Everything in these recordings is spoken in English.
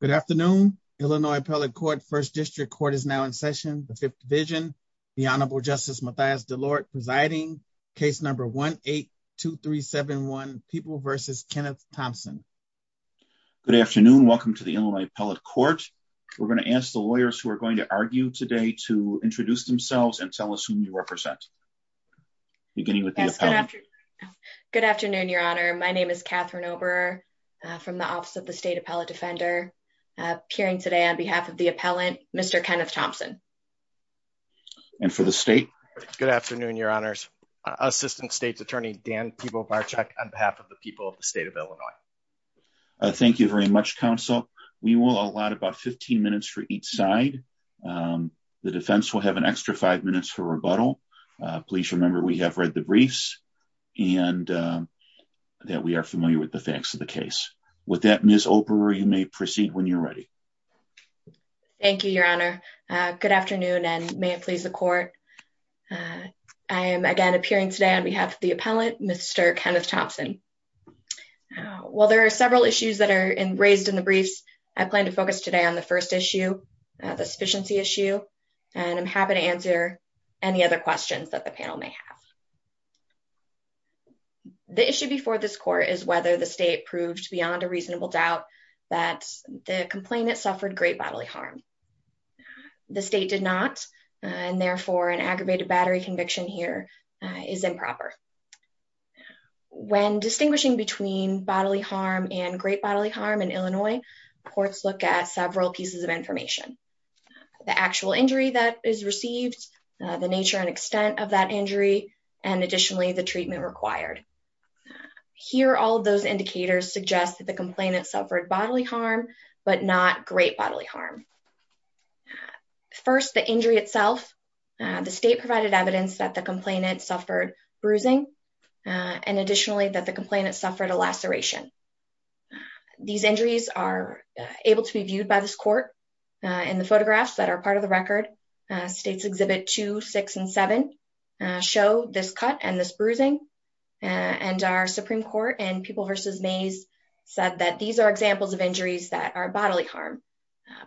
Good afternoon, Illinois Appellate Court, 1st District Court is now in session, the 5th Division, the Honorable Justice Mathias DeLort presiding, case number 1-8-2371, People v. Kenneth Thompson. Good afternoon, welcome to the Illinois Appellate Court. We're going to ask the lawyers who are going to argue today to introduce themselves and tell us who you represent. Beginning with the appellant. Good afternoon, Your Honor. My name is Catherine Oberer from the Office of the State Appellate Defender. Appearing today on behalf of the appellant, Mr. Kenneth Thompson. And for the state? Good afternoon, Your Honors. Assistant State's Attorney Dan Pibobarczyk on behalf of the people of the state of Illinois. Thank you very much, Counsel. We will allot about 15 minutes for each side. The defense will have an extra five minutes for rebuttal. Please remember we have read the briefs and that we are familiar with the facts of the case. With that, Ms. Oberer, you may proceed when you're ready. Thank you, Your Honor. Good afternoon and may it please the court. I am again appearing today on behalf of the appellant, Mr. Kenneth Thompson. While there are several issues that are raised in the briefs, I plan to focus today on the first issue, the sufficiency issue, and I'm happy to answer any other questions that the panel may have. The issue before this court is whether the state proved beyond a reasonable doubt that the complainant suffered great bodily harm. The state did not, and therefore an aggravated battery conviction here is improper. When distinguishing between bodily harm and great bodily harm in Illinois, courts look at several pieces of information. The actual injury that is received, the nature and extent of that injury, and additionally the treatment required. Here, all of those indicators suggest that the complainant suffered bodily harm, but not great bodily harm. First, the injury itself. The state provided evidence that the complainant suffered bruising, and additionally that the complainant suffered a laceration. These injuries are able to be viewed by this court in the photographs that are part of the record. States Exhibit 2, 6, and 7 show this cut and this bruising, and our Supreme Court in People v. Mays said that these are examples of injuries that are bodily harm.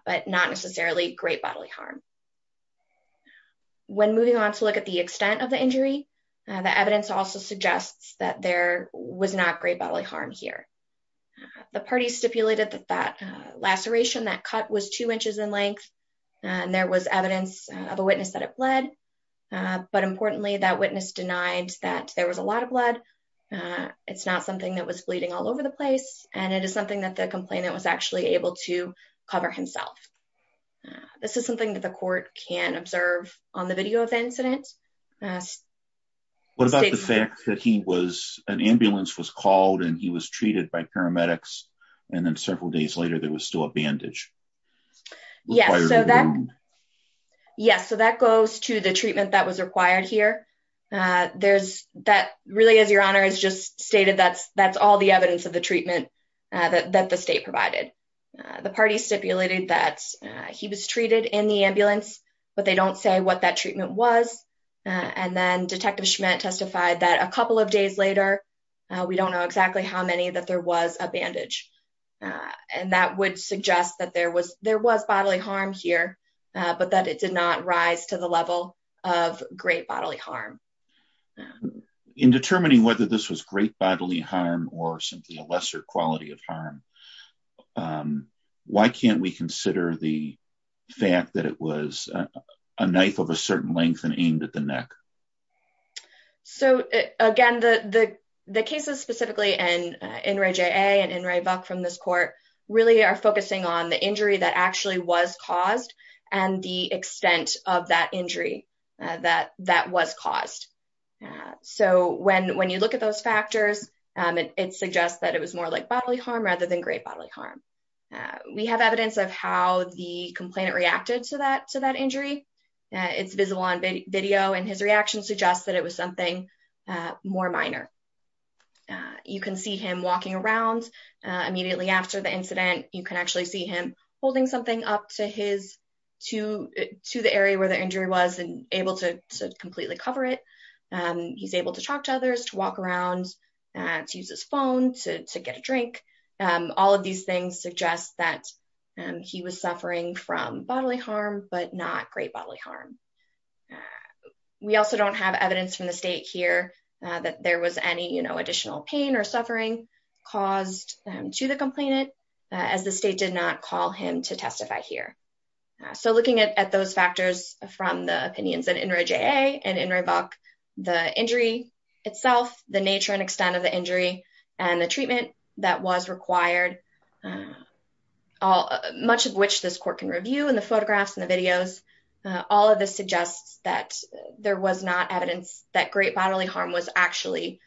But not necessarily great bodily harm. When moving on to look at the extent of the injury, the evidence also suggests that there was not great bodily harm here. The parties stipulated that that laceration, that cut was two inches in length, and there was evidence of a witness that it bled. But importantly, that witness denied that there was a lot of blood. It's not something that was bleeding all over the place, and it is something that the complainant was actually able to cover himself. This is something that the court can observe on the video of the incident. What about the fact that an ambulance was called and he was treated by paramedics, and then several days later there was still a bandage? Yes, so that goes to the treatment that was required here. Really, as Your Honor has just stated, that's all the evidence of the treatment that the state provided. The parties stipulated that he was treated in the ambulance, but they don't say what that treatment was. And then Detective Schmidt testified that a couple of days later, we don't know exactly how many, that there was a bandage. And that would suggest that there was bodily harm here, but that it did not rise to the level of great bodily harm. In determining whether this was great bodily harm or simply a lesser quality of harm, why can't we consider the fact that it was a knife of a certain length and aimed at the neck? So again, the cases specifically in Inouye J.A. and Inouye Buck from this court really are focusing on the injury that actually was caused and the extent of that injury that was caused. So when you look at those factors, it suggests that it was more like bodily harm rather than great bodily harm. We have evidence of how the complainant reacted to that injury. It's visible on video and his reaction suggests that it was something more minor. You can see him walking around immediately after the incident. You can actually see him holding something up to the area where the injury was and able to completely cover it. He's able to talk to others, to walk around, to use his phone, to get a drink. All of these things suggest that he was suffering from bodily harm, but not great bodily harm. We also don't have evidence from the state here that there was any additional pain or suffering caused to the complainant, as the state did not call him to testify here. So looking at those factors from the opinions in Inouye J.A. and Inouye Buck, the injury itself, the nature and extent of the injury, and the treatment that was required, much of which this court can review in the photographs and the videos, all of this suggests that there was not evidence that great bodily harm was actually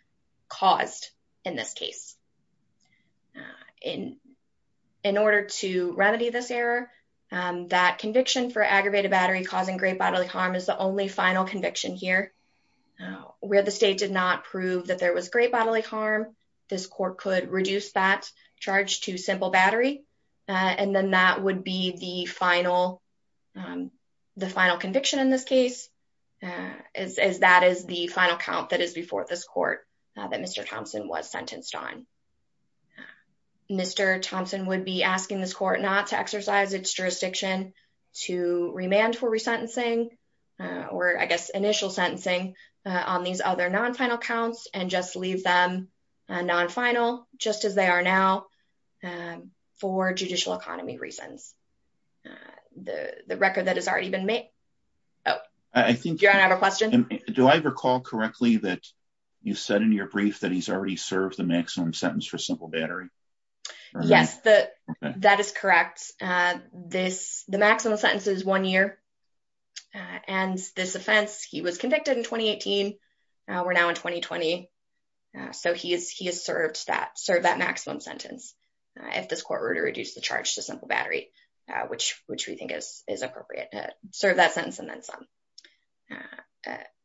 caused in this case. In order to remedy this error, that conviction for aggravated battery causing great bodily harm is the only final conviction here. Where the state did not prove that there was great bodily harm, this court could reduce that charge to simple battery, and then that would be the final conviction in this case, as that is the final count that is before this court that Mr. Thompson was sentenced on. Mr. Thompson would be asking this court not to exercise its jurisdiction to remand for resentencing, or I guess initial sentencing, on these other non-final counts, and just leave them non-final, just as they are now, for judicial economy reasons. The record that has already been made... Do you have a question? Do I recall correctly that you said in your brief that he's already served the maximum sentence for simple battery? Yes, that is correct. The maximum sentence is one year, and this offense, he was convicted in 2018. We're now in 2020, so he has served that maximum sentence. If this court were to reduce the charge to simple battery, which we think is appropriate, serve that sentence and then some.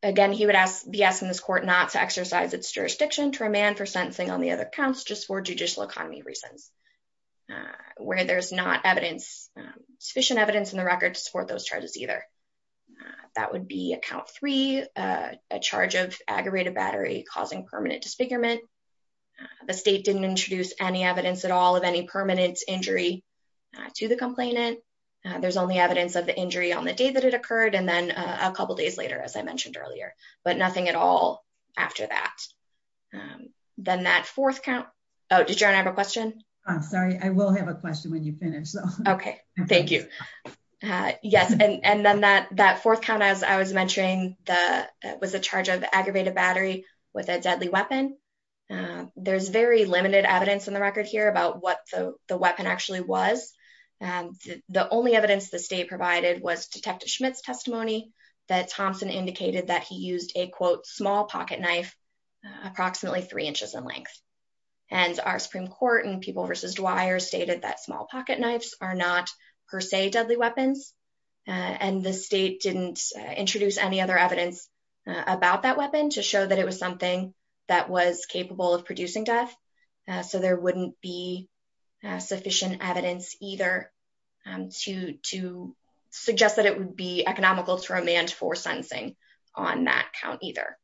Again, he would be asking this court not to exercise its jurisdiction to remand for sentencing on the other counts, just for judicial economy reasons, where there's not sufficient evidence in the record to support those charges either. That would be a count three, a charge of aggravated battery causing permanent disfigurement. The state didn't introduce any evidence at all of any permanent injury to the complainant. There's only evidence of the injury on the day that it occurred, and then a couple days later, as I mentioned earlier, but nothing at all after that. Then that fourth count, oh, did you have a question? I'm sorry, I will have a question when you finish. Okay, thank you. Yes, and then that fourth count, as I was mentioning, was a charge of aggravated battery with a deadly weapon. There's very limited evidence in the record here about what the weapon actually was. It's only that Thompson indicated that he used a, quote, small pocket knife, approximately three inches in length. And our Supreme Court and People v. Dwyer stated that small pocket knives are not per se deadly weapons. And the state didn't introduce any other evidence about that weapon to show that it was something that was capable of producing death. So there wouldn't be sufficient evidence either to suggest that it would be economical to remand for sentencing on that count either.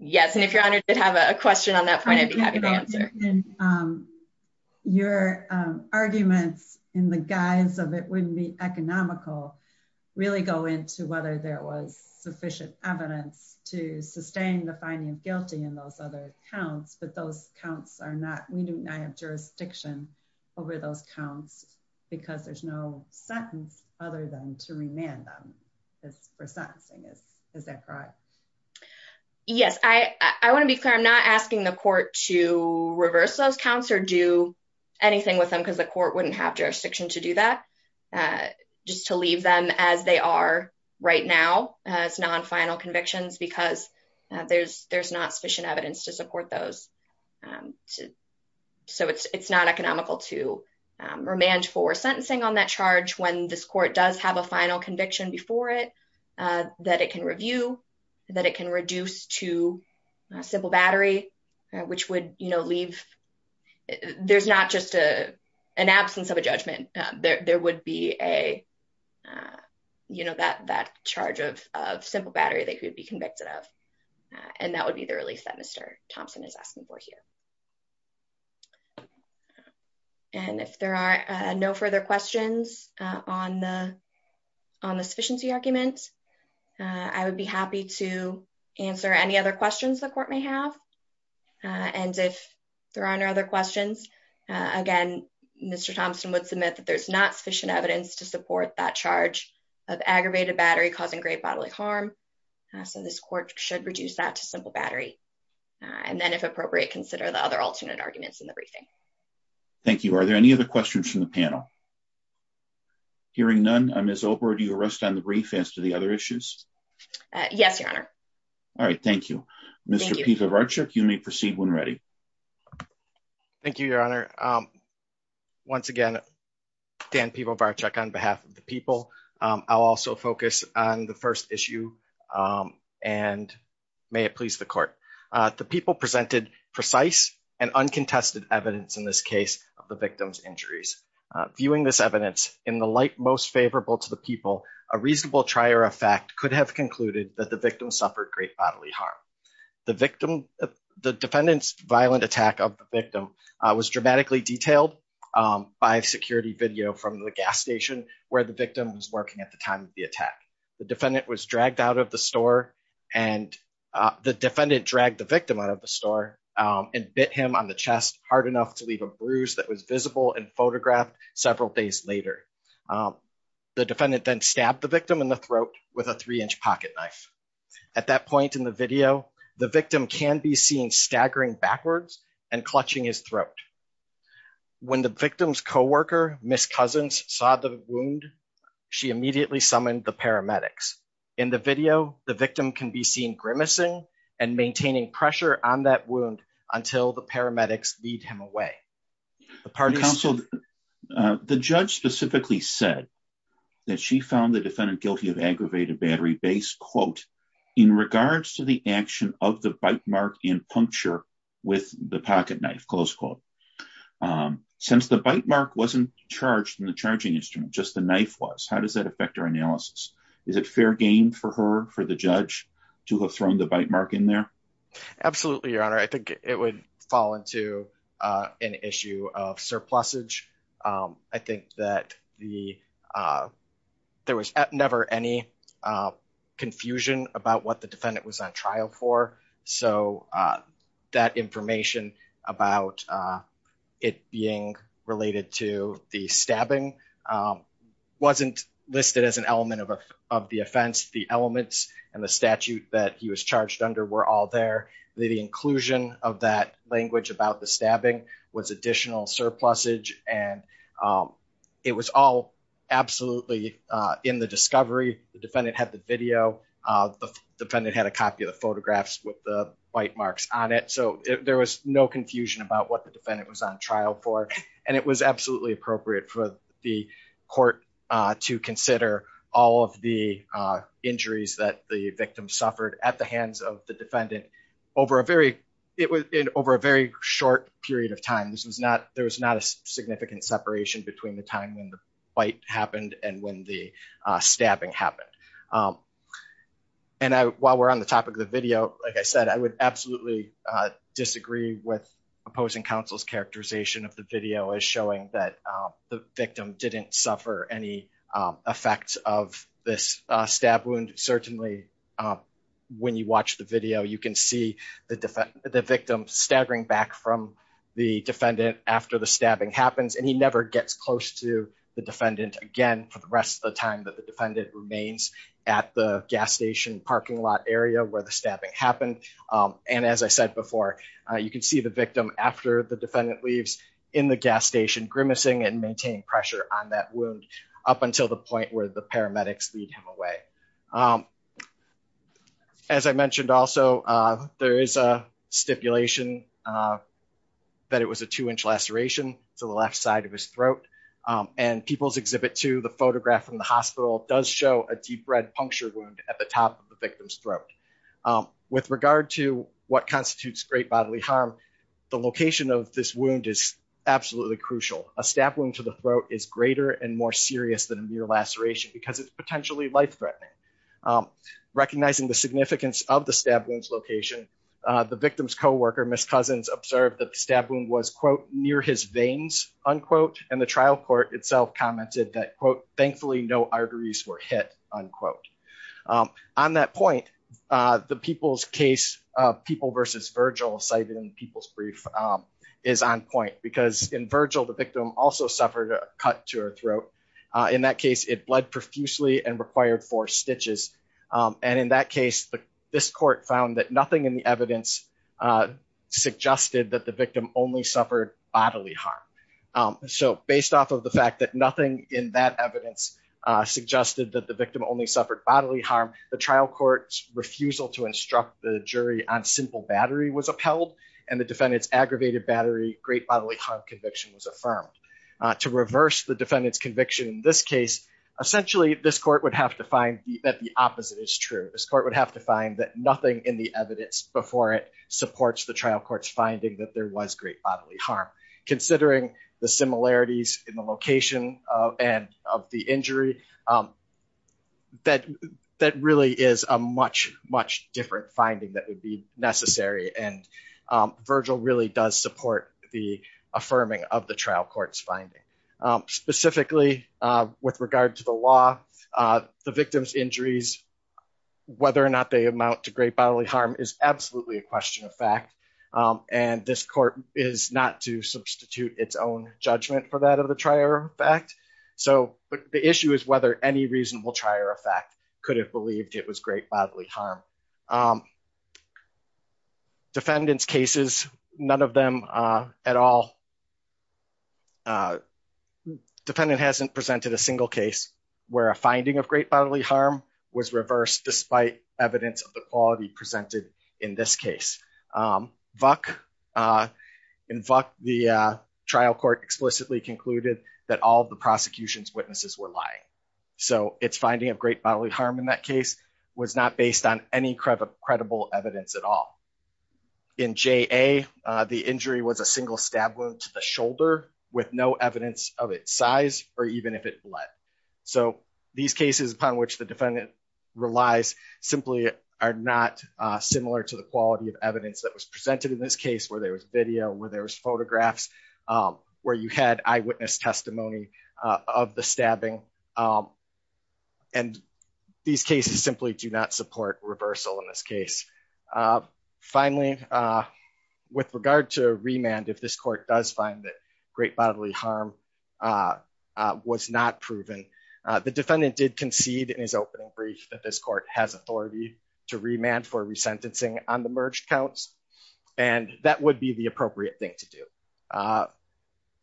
Yes, and if your Honor did have a question on that point, I'd be happy to answer. Your arguments in the guise of it wouldn't be economical really go into whether there was sufficient evidence to sustain the finding of guilty in those other counts. But those counts are not, we do not have jurisdiction over those counts because there's no sentence other than to remand them for sentencing. Is that correct? Yes, I want to be clear. I'm not asking the court to reverse those counts or do anything with them because the court wouldn't have jurisdiction to do that. Just to leave them as they are right now as non-final convictions because there's not sufficient evidence to support those. So it's not economical to remand for sentencing on that charge when this court does have a final conviction before it, that it can review, that it can reduce to a simple battery, which would leave. There's not just an absence of a judgment. There would be a, you know, that charge of simple battery that could be convicted of. And that would be the release that Mr. Thompson is asking for here. And if there are no further questions on the sufficiency argument, I would be happy to answer any other questions the court may have. And if there are no other questions, again, Mr. Thompson would submit that there's not sufficient evidence to support that charge of aggravated battery causing great bodily harm. So this court should reduce that to simple battery. And then if appropriate, consider the other alternate arguments in the briefing. Thank you. Are there any other questions from the panel? Hearing none, Ms. Obra, do you rest on the brief as to the other issues? Yes, Your Honor. All right. Thank you. Mr. Pivovarchuk, you may proceed when ready. Thank you, Your Honor. Once again, Dan Pivovarchuk on behalf of the people. I'll also focus on the first issue. And may it please the court. The people presented precise and uncontested evidence in this case of the victim's injuries. Viewing this evidence in the light most favorable to the people, a reasonable trier of fact could have concluded that the victim suffered great bodily harm. The defendant's violent attack of the victim was dramatically detailed by security video from the gas station where the victim was working at the time of the attack. The defendant was dragged out of the store and the defendant dragged the victim out of the store and bit him on the chest hard enough to leave a bruise that was visible and photographed several days later. The defendant then stabbed the victim in the throat with a three-inch pocketknife. At that point in the video, the victim can be seen staggering backwards and clutching his throat. When the victim's coworker, Ms. Cousins, saw the wound, she immediately summoned the paramedics. In the video, the victim can be seen grimacing and maintaining pressure on that wound until the paramedics lead him away. Counsel, the judge specifically said that she found the defendant guilty of aggravated battery-based, quote, in regards to the action of the bite mark and puncture with the pocketknife, close quote. Since the bite mark wasn't charged in the charging instrument, just the knife was, how does that affect our analysis? Is it fair game for her, for the judge, to have thrown the bite mark in there? Absolutely, Your Honor. I think it would fall into an issue of surplusage. I think that there was never any confusion about what the defendant was on trial for, so that information about it being related to the stabbing wasn't listed as an element of the offense. The elements and the statute that he was charged under were all there. The inclusion of that language about the stabbing was additional surplusage, and it was all absolutely in the discovery. The defendant had the video. The defendant had a copy of the photographs with the bite marks on it, so there was no confusion about what the defendant was on trial for. It was absolutely appropriate for the court to consider all of the injuries that the victim suffered at the hands of the defendant over a very short period of time. There was not a significant separation between the time when the bite happened and when the stabbing happened. While we're on the topic of the video, like I said, I would absolutely disagree with opposing counsel's characterization of the video as showing that the victim didn't suffer any effects of this stab wound. Certainly, when you watch the video, you can see the victim staggering back from the defendant after the stabbing happens, and he never gets close to the defendant again for the rest of the time that the defendant remains at the gas station parking lot area where the stabbing happened. As I said before, you can see the victim after the defendant leaves in the gas station grimacing and maintaining pressure on that wound up until the point where the paramedics lead him away. As I mentioned also, there is a stipulation that it was a two-inch laceration to the left side of his throat, and People's Exhibit 2, the photograph from the hospital, does show a deep red puncture wound at the top of the victim's throat. With regard to what constitutes great bodily harm, the location of this wound is absolutely crucial. A stab wound to the throat is greater and more serious than a mere laceration because it's potentially life-threatening. Recognizing the significance of the stab wound's location, the victim's coworker, Ms. Cousins, observed that the stab wound was, quote, near his veins, unquote, and the trial court itself commented that, quote, thankfully no arteries were hit, unquote. On that point, the People's case, People v. Virgil, cited in People's brief, is on point because in Virgil, the victim also suffered a cut to her throat. In that case, it bled profusely and required four stitches, and in that case, this court found that nothing in the evidence suggested that the victim only suffered bodily harm. So, based off of the fact that nothing in that evidence suggested that the victim only suffered bodily harm, the trial court's refusal to instruct the jury on simple battery was upheld, and the defendant's aggravated battery great bodily harm conviction was affirmed. To reverse the defendant's conviction in this case, essentially this court would have to find that the opposite is true. This court would have to find that nothing in the evidence before it supports the trial court's finding that there was great bodily harm. Considering the similarities in the location of the injury, that really is a much, much different finding that would be necessary, and Virgil really does support the affirming of the trial court's finding. Specifically, with regard to the law, the victim's injuries, whether or not they amount to great bodily harm is absolutely a question of fact, and this court is not to substitute its own judgment for that of the trier effect. So, the issue is whether any reasonable trier effect could have believed it was great bodily harm. Defendant's cases, none of them at all, defendant hasn't presented a single case where a finding of great bodily harm was reversed despite evidence of the quality presented in this case. In Vuck, the trial court explicitly concluded that all of the prosecution's witnesses were lying. So, its finding of great bodily harm in that case was not based on any credible evidence at all. In J.A., the injury was a single stab wound to the shoulder with no evidence of its size or even if it bled. So, these cases upon which the defendant relies simply are not similar to the quality of evidence that was presented in this case where there was video, where there was photographs, where you had eyewitness testimony of the stabbing, and these cases simply do not support reversal in this case. Finally, with regard to remand, if this court does find that great bodily harm was not proven, the defendant did concede in his opening brief that this court has authority to remand for resentencing on the merged counts, and that would be the appropriate thing to do.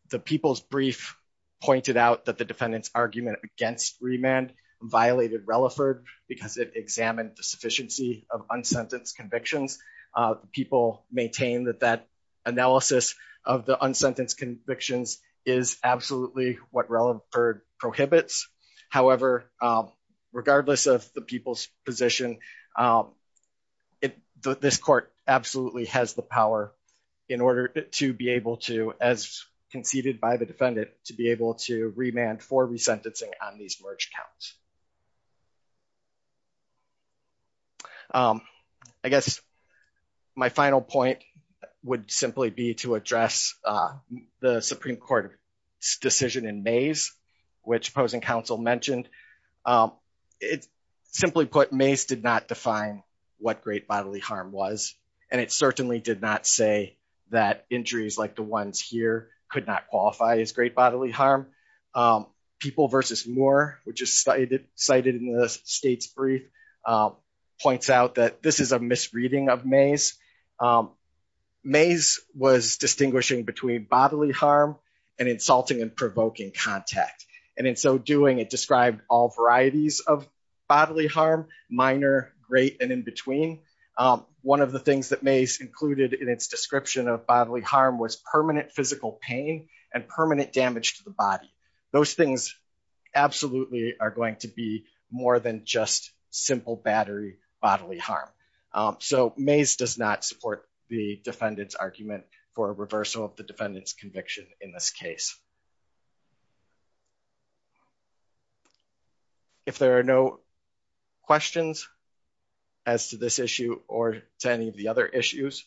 The people's brief pointed out that the defendant's argument against remand violated Relaford because it examined the sufficiency of unsentenced convictions. People maintain that that analysis of the unsentenced convictions is absolutely what Relaford prohibits. However, regardless of the people's position, this court absolutely has the power in order to be able to, as conceded by the defendant, to be able to remand for resentencing on these merged counts. I guess my final point would simply be to address the Supreme Court decision in Mays, which opposing counsel mentioned. Simply put, Mays did not define what great bodily harm was, and it certainly did not say that injuries like the ones here could not qualify as great bodily harm. People v. Moore, which is cited in the state's brief, points out that this is a misreading of Mays. Mays was distinguishing between bodily harm and insulting and provoking contact, and in so doing, it described all varieties of bodily harm, minor, great, and in between. One of the things that Mays included in its description of bodily harm was permanent physical pain and permanent damage to the body. Those things absolutely are going to be more than just simple battery bodily harm. So Mays does not support the defendant's argument for a reversal of the defendant's conviction in this case. If there are no questions as to this issue or to any of the other issues,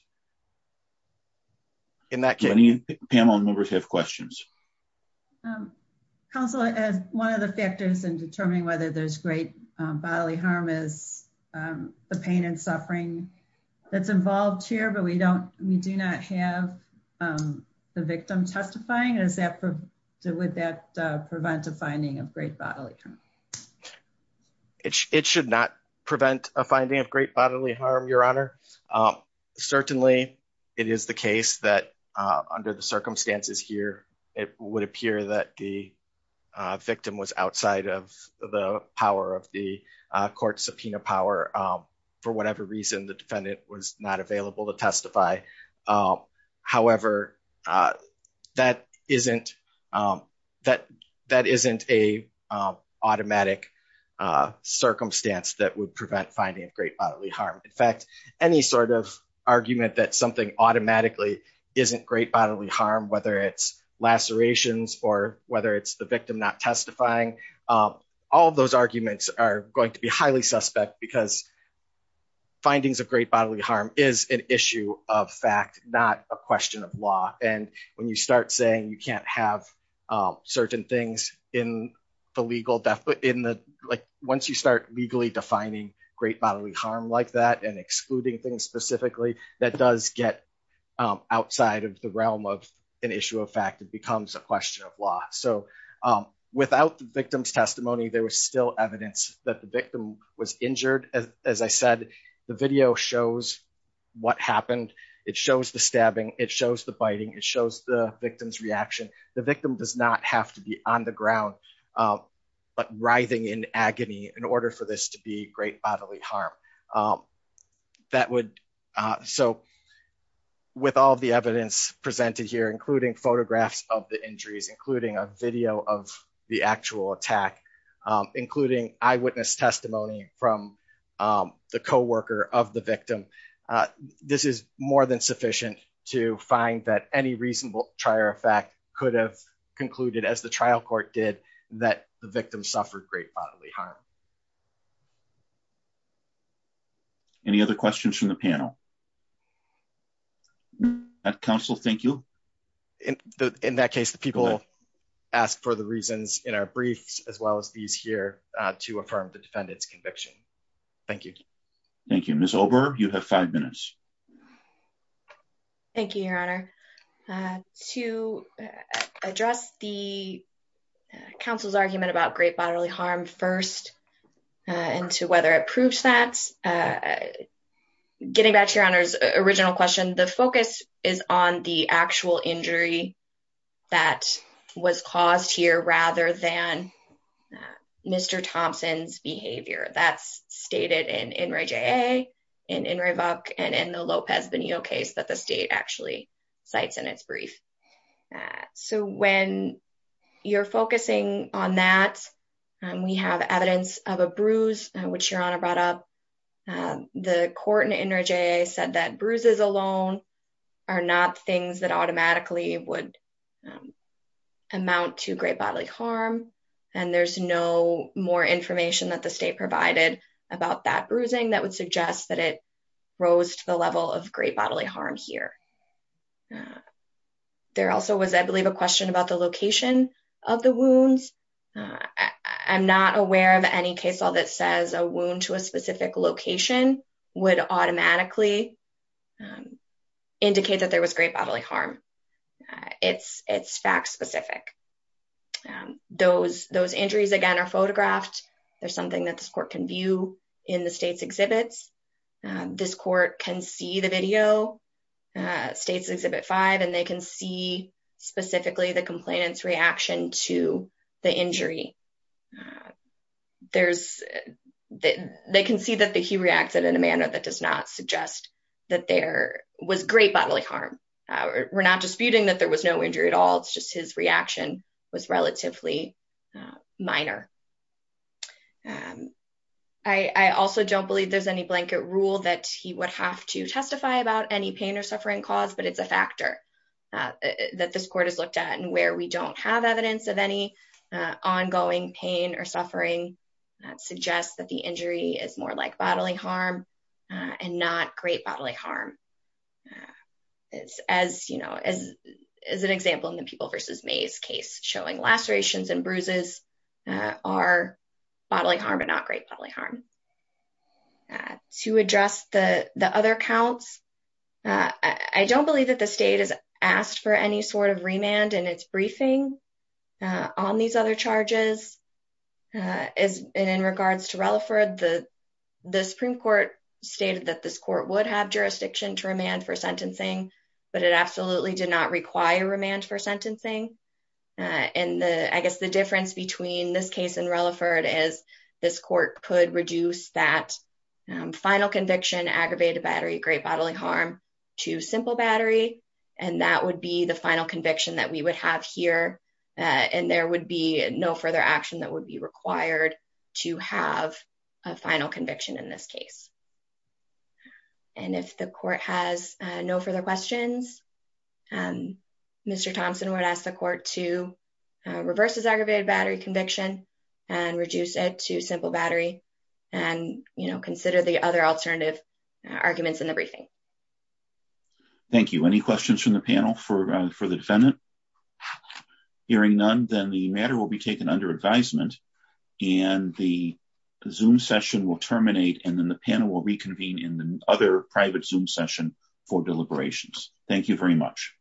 in that case... Any panel members have questions? Counsel, one of the factors in determining whether there's great bodily harm is the pain and suffering that's involved here, but we do not have the victim testifying. Would that prevent a finding of great bodily harm? It should not prevent a finding of great bodily harm, Your Honor. Certainly, it is the case that under the circumstances here, it would appear that the victim was outside of the power of the court subpoena power. For whatever reason, the defendant was not available to testify. However, that isn't a automatic circumstance that would prevent finding of great bodily harm. In fact, any sort of argument that something automatically isn't great bodily harm, whether it's lacerations or whether it's the victim not testifying. All of those arguments are going to be highly suspect because findings of great bodily harm is an issue of fact, not a question of law. When you start saying you can't have certain things in the legal... Once you start legally defining great bodily harm like that and excluding things specifically, that does get outside of the realm of an issue of fact. It becomes a question of law. Without the victim's testimony, there was still evidence that the victim was injured. As I said, the video shows what happened. It shows the stabbing, it shows the biting, it shows the victim's reaction. The victim does not have to be on the ground writhing in agony in order for this to be great bodily harm. With all the evidence presented here, including photographs of the injuries, including a video of the actual attack, including eyewitness testimony from the co-worker of the victim, this is more than sufficient to find that any reasonable trier of fact could have concluded, as the trial court did, that the victim suffered great bodily harm. Any other questions from the panel? Counsel, thank you. In that case, the people asked for the reasons in our briefs, as well as these here, to affirm the defendant's conviction. Thank you. Thank you. Ms. Ober, you have five minutes. Thank you, Your Honor. To address the counsel's argument about great bodily harm first, and to whether it proves that, getting back to Your Honor's original question, the focus is on the actual injury that was caused here, rather than Mr. Thompson's behavior. That's stated in INRI JA, in INRI VUC, and in the Lopez-Bonillo case that the state actually cites in its brief. So when you're focusing on that, we have evidence of a bruise, which Your Honor brought up. The court in INRI JA said that bruises alone are not things that automatically would amount to great bodily harm, and there's no more information that the state provided about that bruising that would suggest that it rose to the level of great bodily harm here. There also was, I believe, a question about the location of the wounds. I'm not aware of any case law that says a wound to a specific location would automatically indicate that there was great bodily harm. It's fact-specific. Those injuries, again, are photographed. There's something that this court can view in the state's exhibits. This court can see the video, State's Exhibit 5, and they can see specifically the complainant's reaction to the injury. They can see that he reacted in a manner that does not suggest that there was great bodily harm. We're not disputing that there was no injury at all. It's just his reaction was relatively minor. I also don't believe there's any blanket rule that he would have to testify about any pain or suffering cause, but it's a factor that this court has looked at. And where we don't have evidence of any ongoing pain or suffering suggests that the injury is more like bodily harm and not great bodily harm. As an example, in the People v. Mays case, showing lacerations and bruises are bodily harm and not great bodily harm. To address the other counts, I don't believe that the state has asked for any sort of remand in its briefing on these other charges. In regards to Relaford, the Supreme Court stated that this court would have jurisdiction to remand for sentencing, but it absolutely did not require remand for sentencing. I guess the difference between this case and Relaford is this court could reduce that final conviction, aggravated bodily harm, to simple bodily harm. And that would be the final conviction that we would have here. And there would be no further action that would be required to have a final conviction in this case. And if the court has no further questions, Mr. Thompson would ask the court to reverse his aggravated bodily harm conviction and reduce it to simple bodily harm. And consider the other alternative arguments in the briefing. Thank you. Any questions from the panel for the defendant? Hearing none, then the matter will be taken under advisement. And the Zoom session will terminate and then the panel will reconvene in the other private Zoom session for deliberations. Thank you very much.